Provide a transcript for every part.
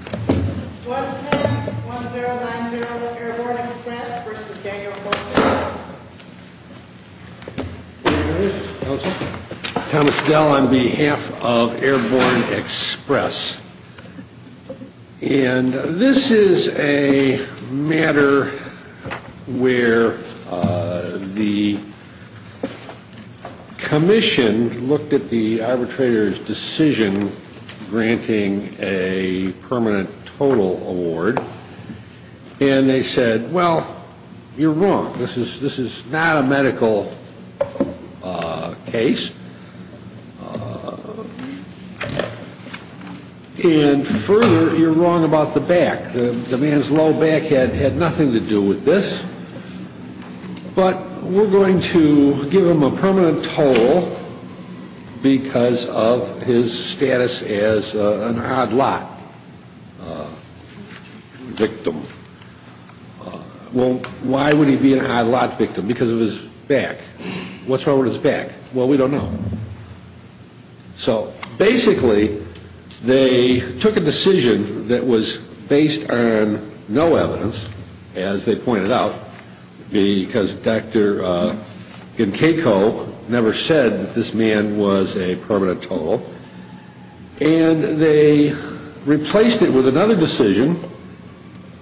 1101090 Airborne Express v. Daniel Fultz, Jr. Thomas Dell on behalf of Airborne Express. And this is a matter where the commission looked at the arbitrator's decision granting a permanent total award, and they said, well, you're wrong. This is not a medical case. And further, you're wrong about the back. The man's low back had nothing to do with this. But we're going to give him a permanent total because of his status as an odd lot victim. Well, why would he be an odd lot victim? Because of his back. What's wrong with his back? Well, we don't know. So basically, they took a decision that was based on no evidence, as they pointed out, because Dr. Genkeiko never said that this man was a permanent total. And they replaced it with another decision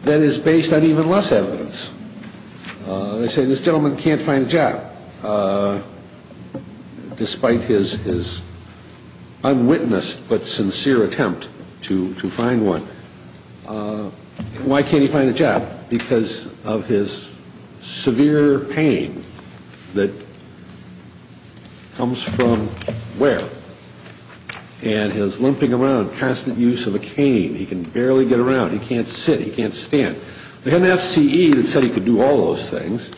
that is based on even less evidence. They say this gentleman can't find a job despite his unwitnessed but sincere attempt to find one. Why can't he find a job? Because of his severe pain that comes from where? And his limping around, constant use of a cane. He can barely get around. He can't sit. He can't stand. They had an FCE that said he could do all those things.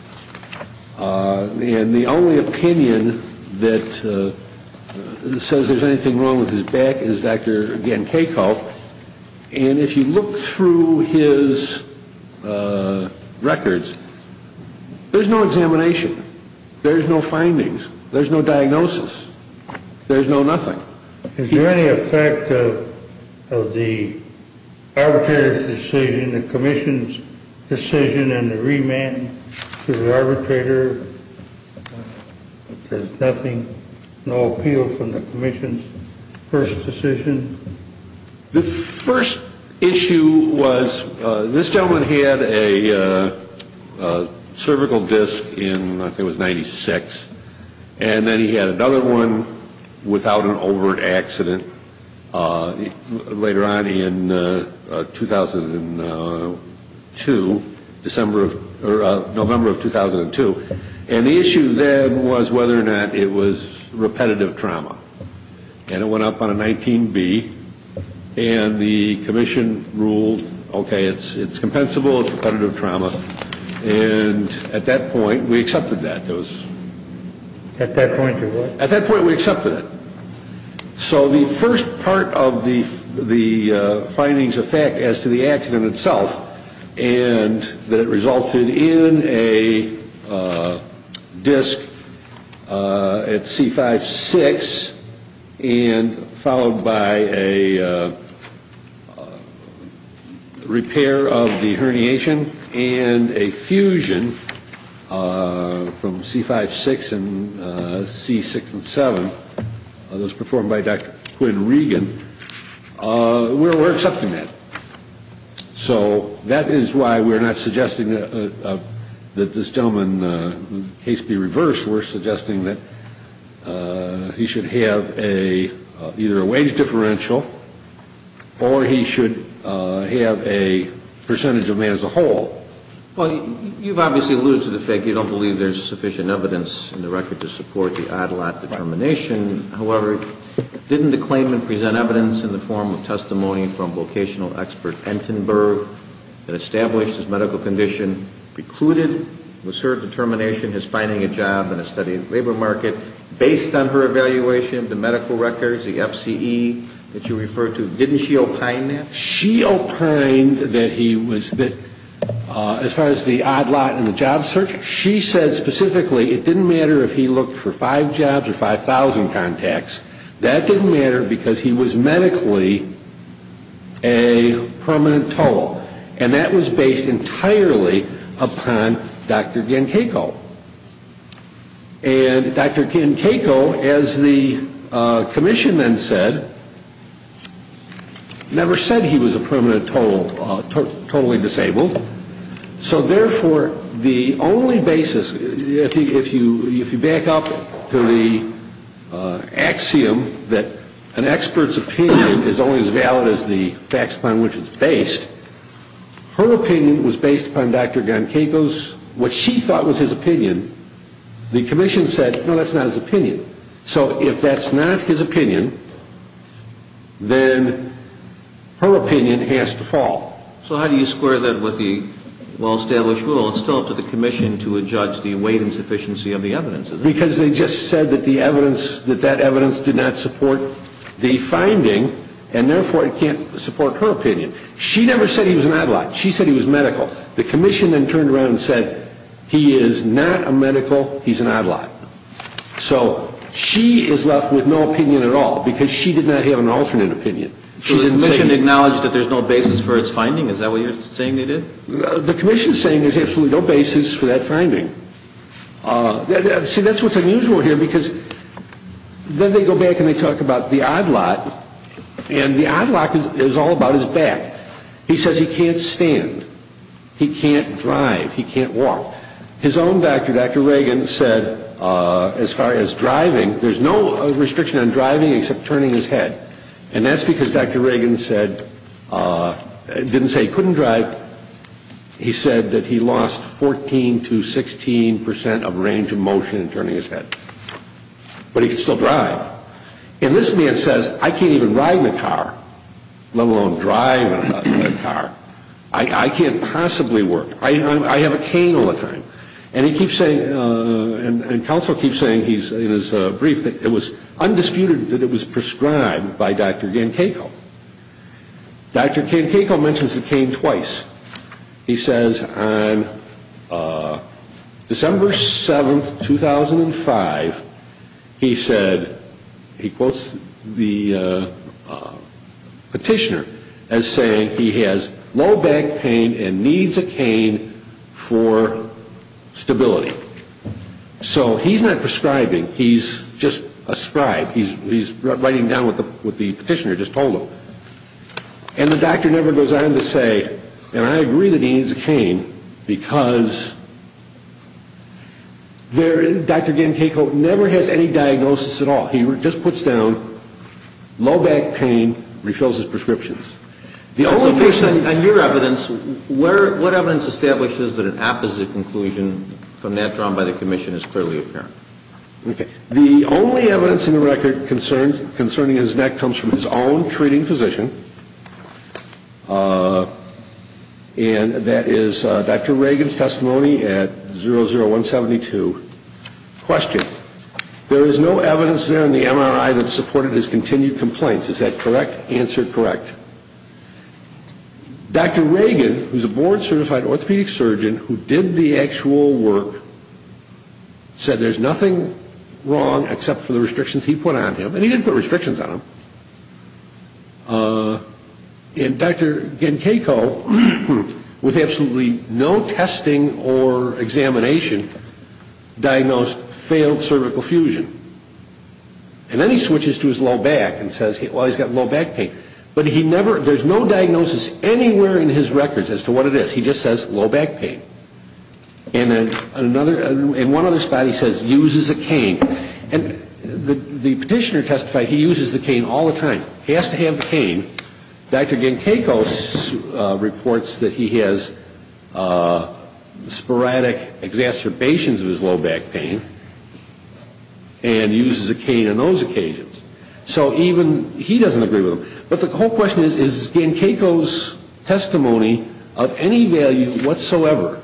And the only opinion that says there's anything wrong with his back is Dr. Genkeiko. And if you look through his records, there's no examination. There's no findings. There's no diagnosis. There's no nothing. Is there any effect of the arbitrator's decision, the commission's decision, and the remand to the arbitrator? There's nothing, no appeal from the commission's first decision. The first issue was this gentleman had a cervical disc in, I think it was, 96. And then he had another one without an overt accident later on in 2002, November of 2002. And the issue then was whether or not it was repetitive trauma. And it went up on a 19B. And the commission ruled, okay, it's compensable, it's repetitive trauma. And at that point we accepted that. At that point you what? At that point we accepted it. So the first part of the findings affect as to the accident itself and that it resulted in a disc at C5-6 and followed by a repair of the herniation and a fusion from C5-6 and C6-7, those performed by Dr. Quinn Regan. We're accepting that. So that is why we're not suggesting that this gentleman's case be reversed. We're suggesting that he should have either a wage differential or he should have a percentage of man as a whole. Well, you've obviously alluded to the fact you don't believe there's sufficient evidence in the record to support the Adelot determination. However, didn't the claimant present evidence in the form of testimony from vocational expert Entenberg that established his medical condition precluded, was her determination his finding a job in a study of the labor market, based on her evaluation of the medical records, the FCE that you referred to, didn't she opine that? She opined that he was, as far as the Adelot and the job search, she said specifically it didn't matter if he looked for five jobs or 5,000 contacts. That didn't matter because he was medically a permanent toll. And that was based entirely upon Dr. Genchayko. And Dr. Genchayko, as the commission then said, never said he was a permanent toll, totally disabled. So therefore, the only basis, if you back up to the axiom that an expert's opinion is only as valid as the facts upon which it's based, her opinion was based upon Dr. Genchayko's, what she thought was his opinion. The commission said, no, that's not his opinion. So if that's not his opinion, then her opinion has to fall. So how do you square that with the well-established rule? It's still up to the commission to adjudge the weight and sufficiency of the evidence, isn't it? Because they just said that the evidence, that that evidence did not support the finding, and therefore it can't support her opinion. She never said he was an Adelot. She said he was medical. The commission then turned around and said, he is not a medical, he's an Adelot. So she is left with no opinion at all because she did not have an alternate opinion. She didn't acknowledge that there's no basis for its finding? Is that what you're saying they did? The commission is saying there's absolutely no basis for that finding. See, that's what's unusual here because then they go back and they talk about the Adelot, and the Adelot is all about his back. He says he can't stand. He can't drive. He can't walk. His own doctor, Dr. Reagan, said as far as driving, there's no restriction on driving except turning his head. And that's because Dr. Reagan said, didn't say he couldn't drive. He said that he lost 14 to 16 percent of range of motion in turning his head. But he could still drive. And this man says, I can't even ride in a car, let alone drive in a car. I can't possibly work. I have a cane all the time. And he keeps saying, and counsel keeps saying in his brief that it was undisputed that it was prescribed by Dr. Gankayko. Dr. Gankayko mentions the cane twice. He says on December 7, 2005, he said, he quotes the petitioner as saying he has low back pain and needs a cane for stability. So he's not prescribing. He's just a scribe. He's writing down what the petitioner just told him. And the doctor never goes on to say, and I agree that he needs a cane because Dr. Gankayko never has any diagnosis at all. He just puts down low back pain, refills his prescriptions. On your evidence, what evidence establishes that an opposite conclusion from that drawn by the commission is clearly apparent? The only evidence in the record concerning his neck comes from his own treating physician, and that is Dr. Reagan's testimony at 00172. Question. There is no evidence there in the MRI that supported his continued complaints. Is that correct? Answer correct. Dr. Reagan, who's a board-certified orthopedic surgeon who did the actual work, said there's nothing wrong except for the restrictions he put on him. And he didn't put restrictions on him. And Dr. Gankayko, with absolutely no testing or examination, diagnosed failed cervical fusion. And then he switches to his low back and says, well, he's got low back pain. But he never, there's no diagnosis anywhere in his records as to what it is. He just says low back pain. In one other spot he says, uses a cane. And the petitioner testified he uses the cane all the time. He has to have the cane. Dr. Gankayko reports that he has sporadic exacerbations of his low back pain and uses a cane on those occasions. So even he doesn't agree with him. But the whole question is, is Gankayko's testimony of any value whatsoever,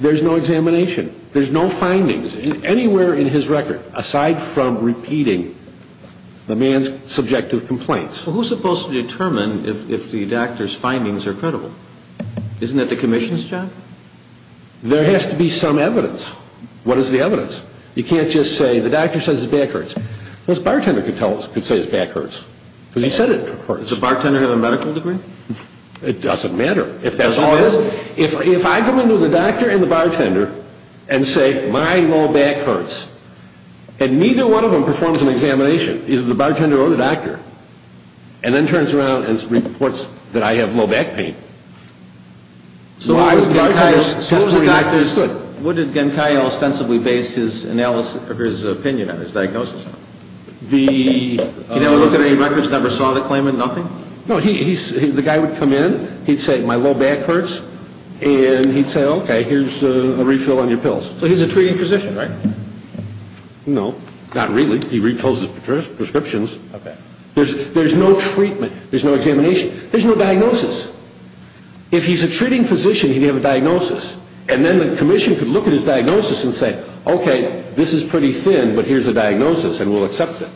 there's no examination. There's no findings anywhere in his record aside from repeating the man's subjective complaints. So who's supposed to determine if the doctor's findings are credible? Isn't it the commission's job? There has to be some evidence. What is the evidence? You can't just say the doctor says his back hurts. Well, his bartender could say his back hurts. Because he said it hurts. Does the bartender have a medical degree? It doesn't matter. If that's all it is, if I go into the doctor and the bartender and say my low back hurts, and neither one of them performs an examination, either the bartender or the doctor, and then turns around and reports that I have low back pain. So what did Gankayko ostensibly base his opinion on, his diagnosis on? He never looked at any records, never saw the claimant, nothing? No. The guy would come in. He'd say my low back hurts. And he'd say, okay, here's a refill on your pills. So he's a treating physician, right? No. Not really. He refills his prescriptions. There's no treatment. There's no examination. There's no diagnosis. If he's a treating physician, he'd have a diagnosis. And then the commission could look at his diagnosis and say, okay, this is pretty thin, but here's a diagnosis, and we'll accept it.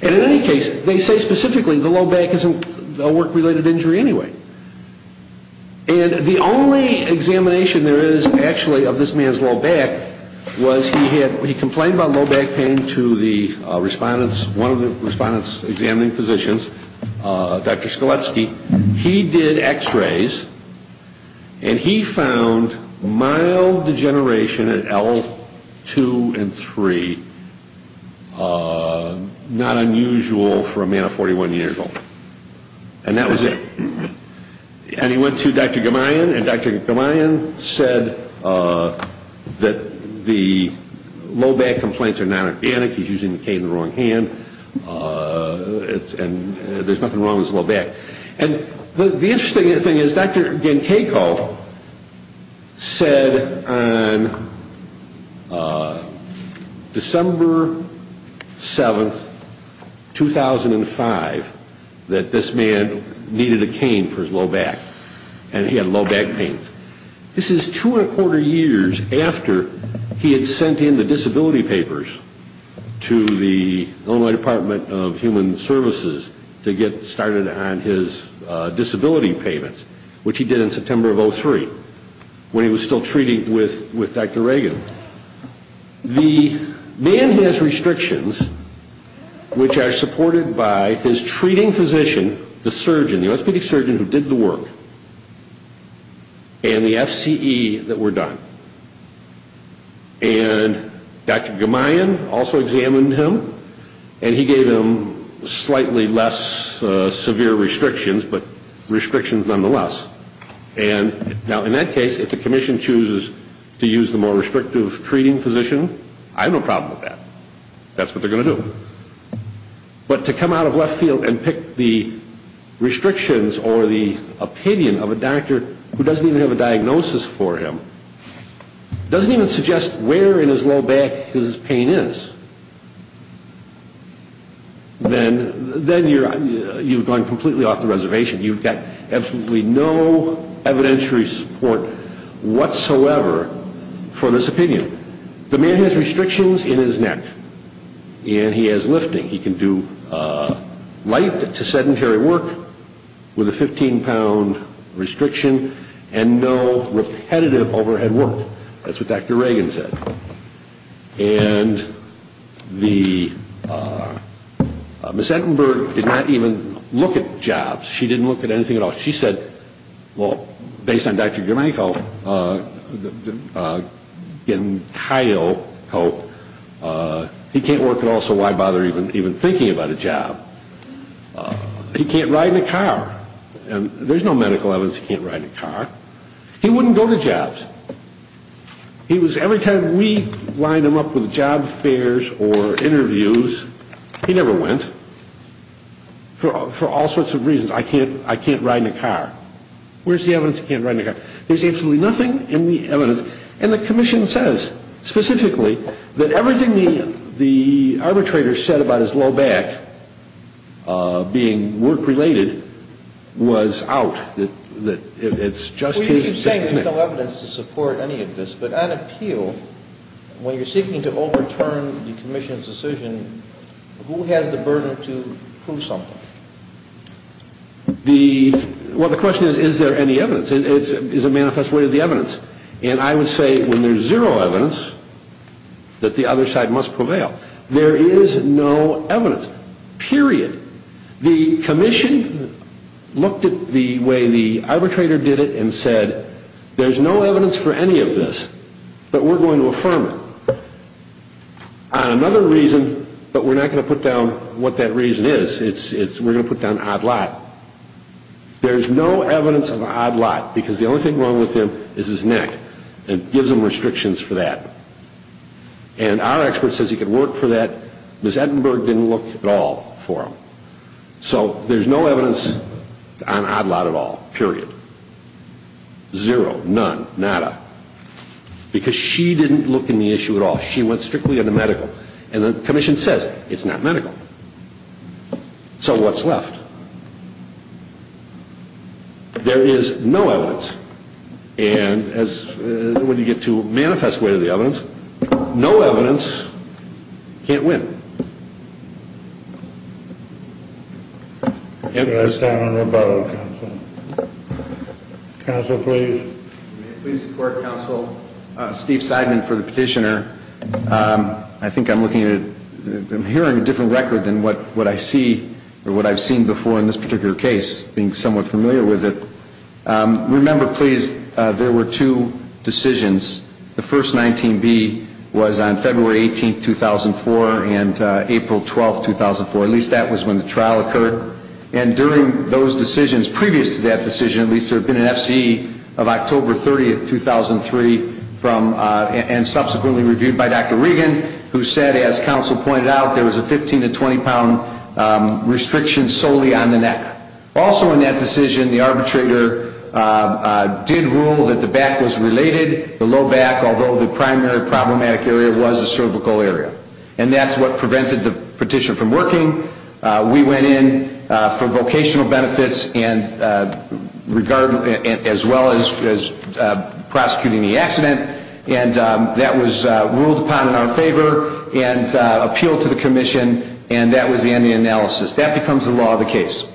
And in any case, they say specifically the low back isn't a work-related injury anyway. And the only examination there is actually of this man's low back was he complained about low back pain to one of the respondents examining physicians, Dr. Skoletsky. He did X-rays, and he found mild degeneration at L2 and 3, not unusual for a man of 41 years old. And that was it. And he went to Dr. Gamayan, and Dr. Gamayan said that the low back complaints are not organic. He's using the cane in the wrong hand, and there's nothing wrong with his low back. And the interesting thing is Dr. Genkeiko said on December 7, 2005, that this man needed a cane for his low back, and he had low back pain. This is two and a quarter years after he had sent in the disability papers to the Illinois Department of Human Services to get started on his disability payments, which he did in September of 2003 when he was still treating with Dr. Reagan. The man has restrictions which are supported by his treating physician, the surgeon, the orthopedic surgeon who did the work, and the FCE that were done. And Dr. Gamayan also examined him, and he gave him slightly less severe restrictions, but restrictions nonetheless. Now, in that case, if the commission chooses to use the more restrictive treating physician, I have no problem with that. That's what they're going to do. But to come out of left field and pick the restrictions or the opinion of a doctor who doesn't even have a diagnosis for him, doesn't even suggest where in his low back his pain is, then you've gone completely off the reservation. You've got absolutely no evidentiary support whatsoever for this opinion. The man has restrictions in his neck, and he has lifting. He can do light to sedentary work with a 15-pound restriction and no repetitive overhead work. That's what Dr. Reagan said. And Ms. Ettenberg did not even look at jobs. She didn't look at anything at all. She said, well, based on Dr. Gamayan, he can't work at all, so why bother even thinking about a job? He can't ride in a car. There's no medical evidence he can't ride in a car. He wouldn't go to jobs. Every time we lined him up with job fairs or interviews, he never went for all sorts of reasons. I can't ride in a car. Where's the evidence he can't ride in a car? There's absolutely nothing in the evidence. And the commission says specifically that everything the arbitrator said about his low back being work-related was out, that it's just his technique. Well, you keep saying there's no evidence to support any of this. But on appeal, when you're seeking to overturn the commission's decision, who has the burden to prove something? Well, the question is, is there any evidence? It's a manifest way of the evidence. And I would say when there's zero evidence that the other side must prevail. There is no evidence, period. The commission looked at the way the arbitrator did it and said, there's no evidence for any of this, but we're going to affirm it. On another reason, but we're not going to put down what that reason is, we're going to put down odd lot. There's no evidence of an odd lot, because the only thing wrong with him is his neck. It gives him restrictions for that. And our expert says he could work for that. Ms. Edinburgh didn't look at all for him. So there's no evidence on odd lot at all, period. Zero, none, nada. Because she didn't look in the issue at all. She went strictly on the medical. And the commission says it's not medical. So what's left? There is no evidence. And as when you get to manifest way of the evidence, no evidence can't win. Please support counsel Steve Seidman for the petitioner. I think I'm hearing a different record than what I see or what I've seen before in this particular case, being somewhat familiar with it. Remember, please, there were two decisions. The first, 19B, was on February 18th, 2004, and April 12th, 2004. At least that was when the trial occurred. And during those decisions, previous to that decision, at least there had been an FCE of October 30th, 2003, and subsequently reviewed by Dr. Regan, who said, as counsel pointed out, there was a 15 to 20-pound restriction solely on the neck. Also in that decision, the arbitrator did rule that the back was related, the low back, although the primary problematic area was the cervical area. And that's what prevented the petition from working. We went in for vocational benefits as well as prosecuting the accident. And that was ruled upon in our favor and appealed to the commission. And that was the end of the analysis. That becomes the law of the case.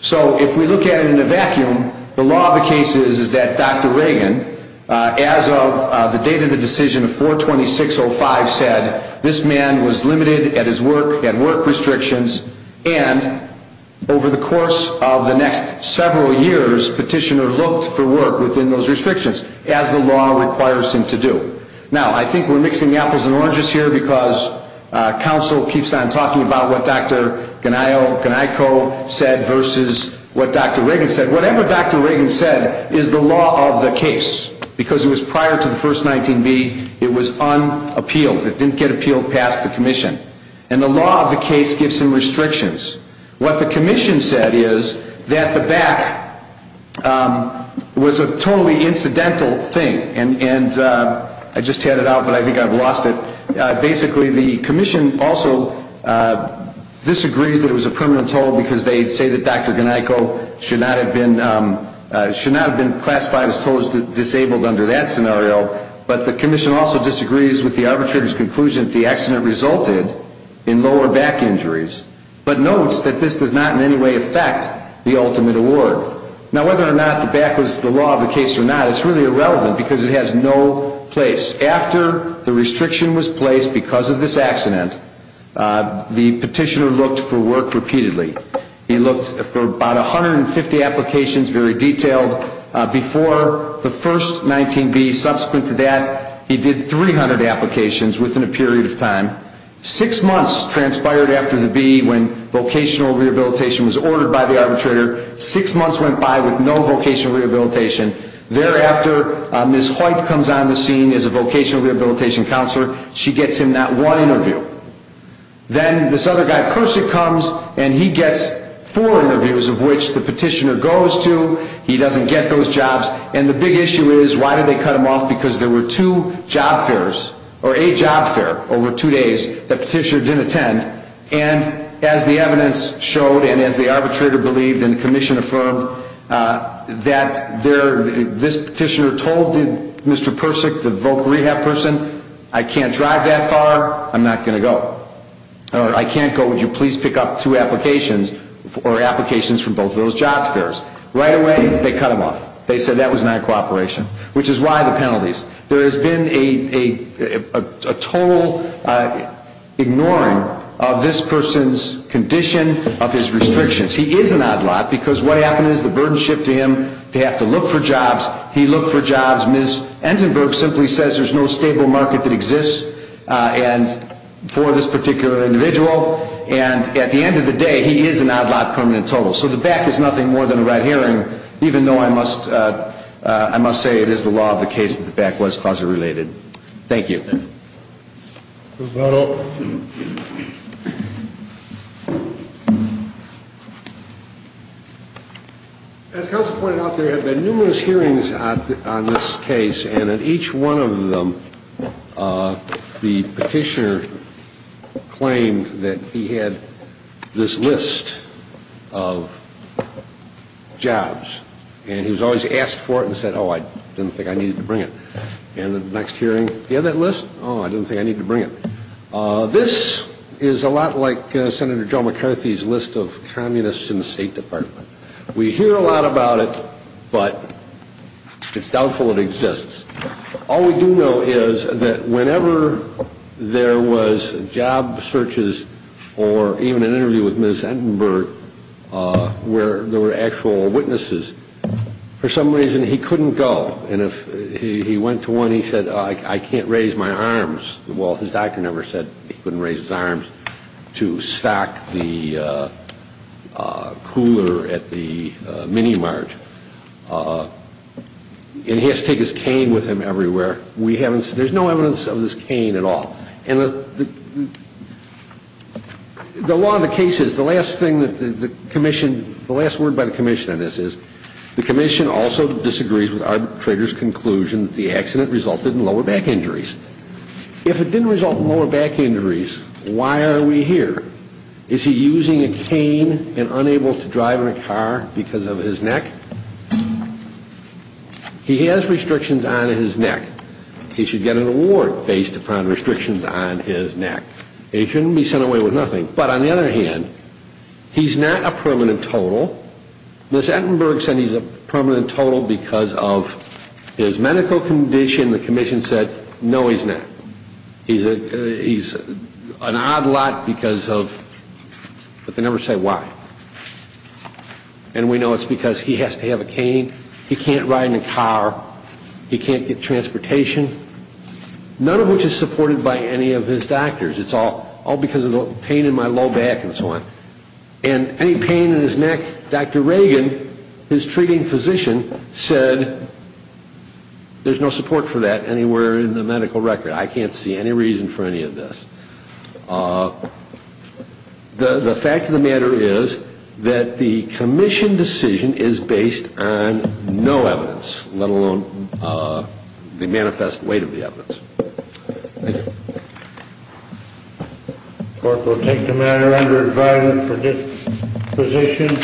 So if we look at it in a vacuum, the law of the case is that Dr. Regan, as of the date of the decision of 4-26-05, said this man was limited at his work, had work restrictions, and over the course of the next several years, petitioner looked for work within those restrictions as the law requires him to do. Now, I think we're mixing apples and oranges here because counsel keeps on talking about what Dr. Ganayko said versus what Dr. Regan said. Whatever Dr. Regan said is the law of the case because it was prior to the first 19B. It was unappealed. It didn't get appealed past the commission. And the law of the case gives him restrictions. What the commission said is that the back was a totally incidental thing. And I just had it out, but I think I've lost it. Basically, the commission also disagrees that it was a permanent toll because they say that Dr. Ganayko should not have been classified as disabled under that scenario. But the commission also disagrees with the arbitrator's conclusion that the accident resulted in lower back injuries, but notes that this does not in any way affect the ultimate award. Now, whether or not the back was the law of the case or not, it's really irrelevant because it has no place. After the restriction was placed because of this accident, the petitioner looked for work repeatedly. He looked for about 150 applications, very detailed. Before the first 19B, subsequent to that, he did 300 applications within a period of time. Six months transpired after the B when vocational rehabilitation was ordered by the arbitrator. Six months went by with no vocational rehabilitation. Thereafter, Ms. Hoyt comes on the scene as a vocational rehabilitation counselor. She gets him not one interview. Then this other guy, Persick, comes and he gets four interviews, of which the petitioner goes to. He doesn't get those jobs. And the big issue is, why did they cut him off? Because there were two job fairs, or a job fair, over two days that the petitioner didn't attend. And as the evidence showed and as the arbitrator believed and the commission affirmed, that this petitioner told Mr. Persick, the voc rehab person, I can't drive that far, I'm not going to go. Or, I can't go, would you please pick up two applications, or applications from both of those job fairs. Right away, they cut him off. They said that was not cooperation. Which is why the penalties. There has been a total ignoring of this person's condition, of his restrictions. He is an odd lot, because what happened is the burden shifted him to have to look for jobs. He looked for jobs. Ms. Entenberg simply says there's no stable market that exists for this particular individual. And at the end of the day, he is an odd lot, permanent total. So the back is nothing more than a red herring, even though I must say it is the law of the case that the back was causally related. Thank you. Thank you. As counsel pointed out, there have been numerous hearings on this case. And at each one of them, the petitioner claimed that he had this list of jobs. And he was always asked for it and said, oh, I didn't think I needed to bring it. And at the next hearing, he had that list. Oh, I didn't think I needed to bring it. This is a lot like Senator Joe McCarthy's list of communists in the State Department. We hear a lot about it, but it's doubtful it exists. All we do know is that whenever there was job searches or even an interview with Ms. Entenberg where there were actual witnesses, for some reason, he couldn't go. And if he went to one, he said, oh, I can't raise my arms. Well, his doctor never said he couldn't raise his arms to stack the cooler at the mini mart. And he has to take his cane with him everywhere. We haven't seen it. There's no evidence of this cane at all. And the law of the case is, the last thing that the commission, the last word by the commission on this is, the commission also disagrees with arbitrator's conclusion that the accident resulted in lower back injuries. If it didn't result in lower back injuries, why are we here? Is he using a cane and unable to drive in a car because of his neck? He has restrictions on his neck. He should get an award based upon restrictions on his neck. He shouldn't be sent away with nothing. But on the other hand, he's not a permanent total. Ms. Entenberg said he's a permanent total because of his medical condition. The commission said, no, he's not. He's an odd lot because of, but they never say why. And we know it's because he has to have a cane. He can't ride in a car. He can't get transportation, none of which is supported by any of his doctors. It's all because of the pain in my low back and so on. And any pain in his neck, Dr. Reagan, his treating physician, said there's no support for that anywhere in the medical record. I can't see any reason for any of this. The fact of the matter is that the commission decision is based on no evidence, let alone the manifest weight of the evidence. Thank you. The court will take the matter under advisement for disposition.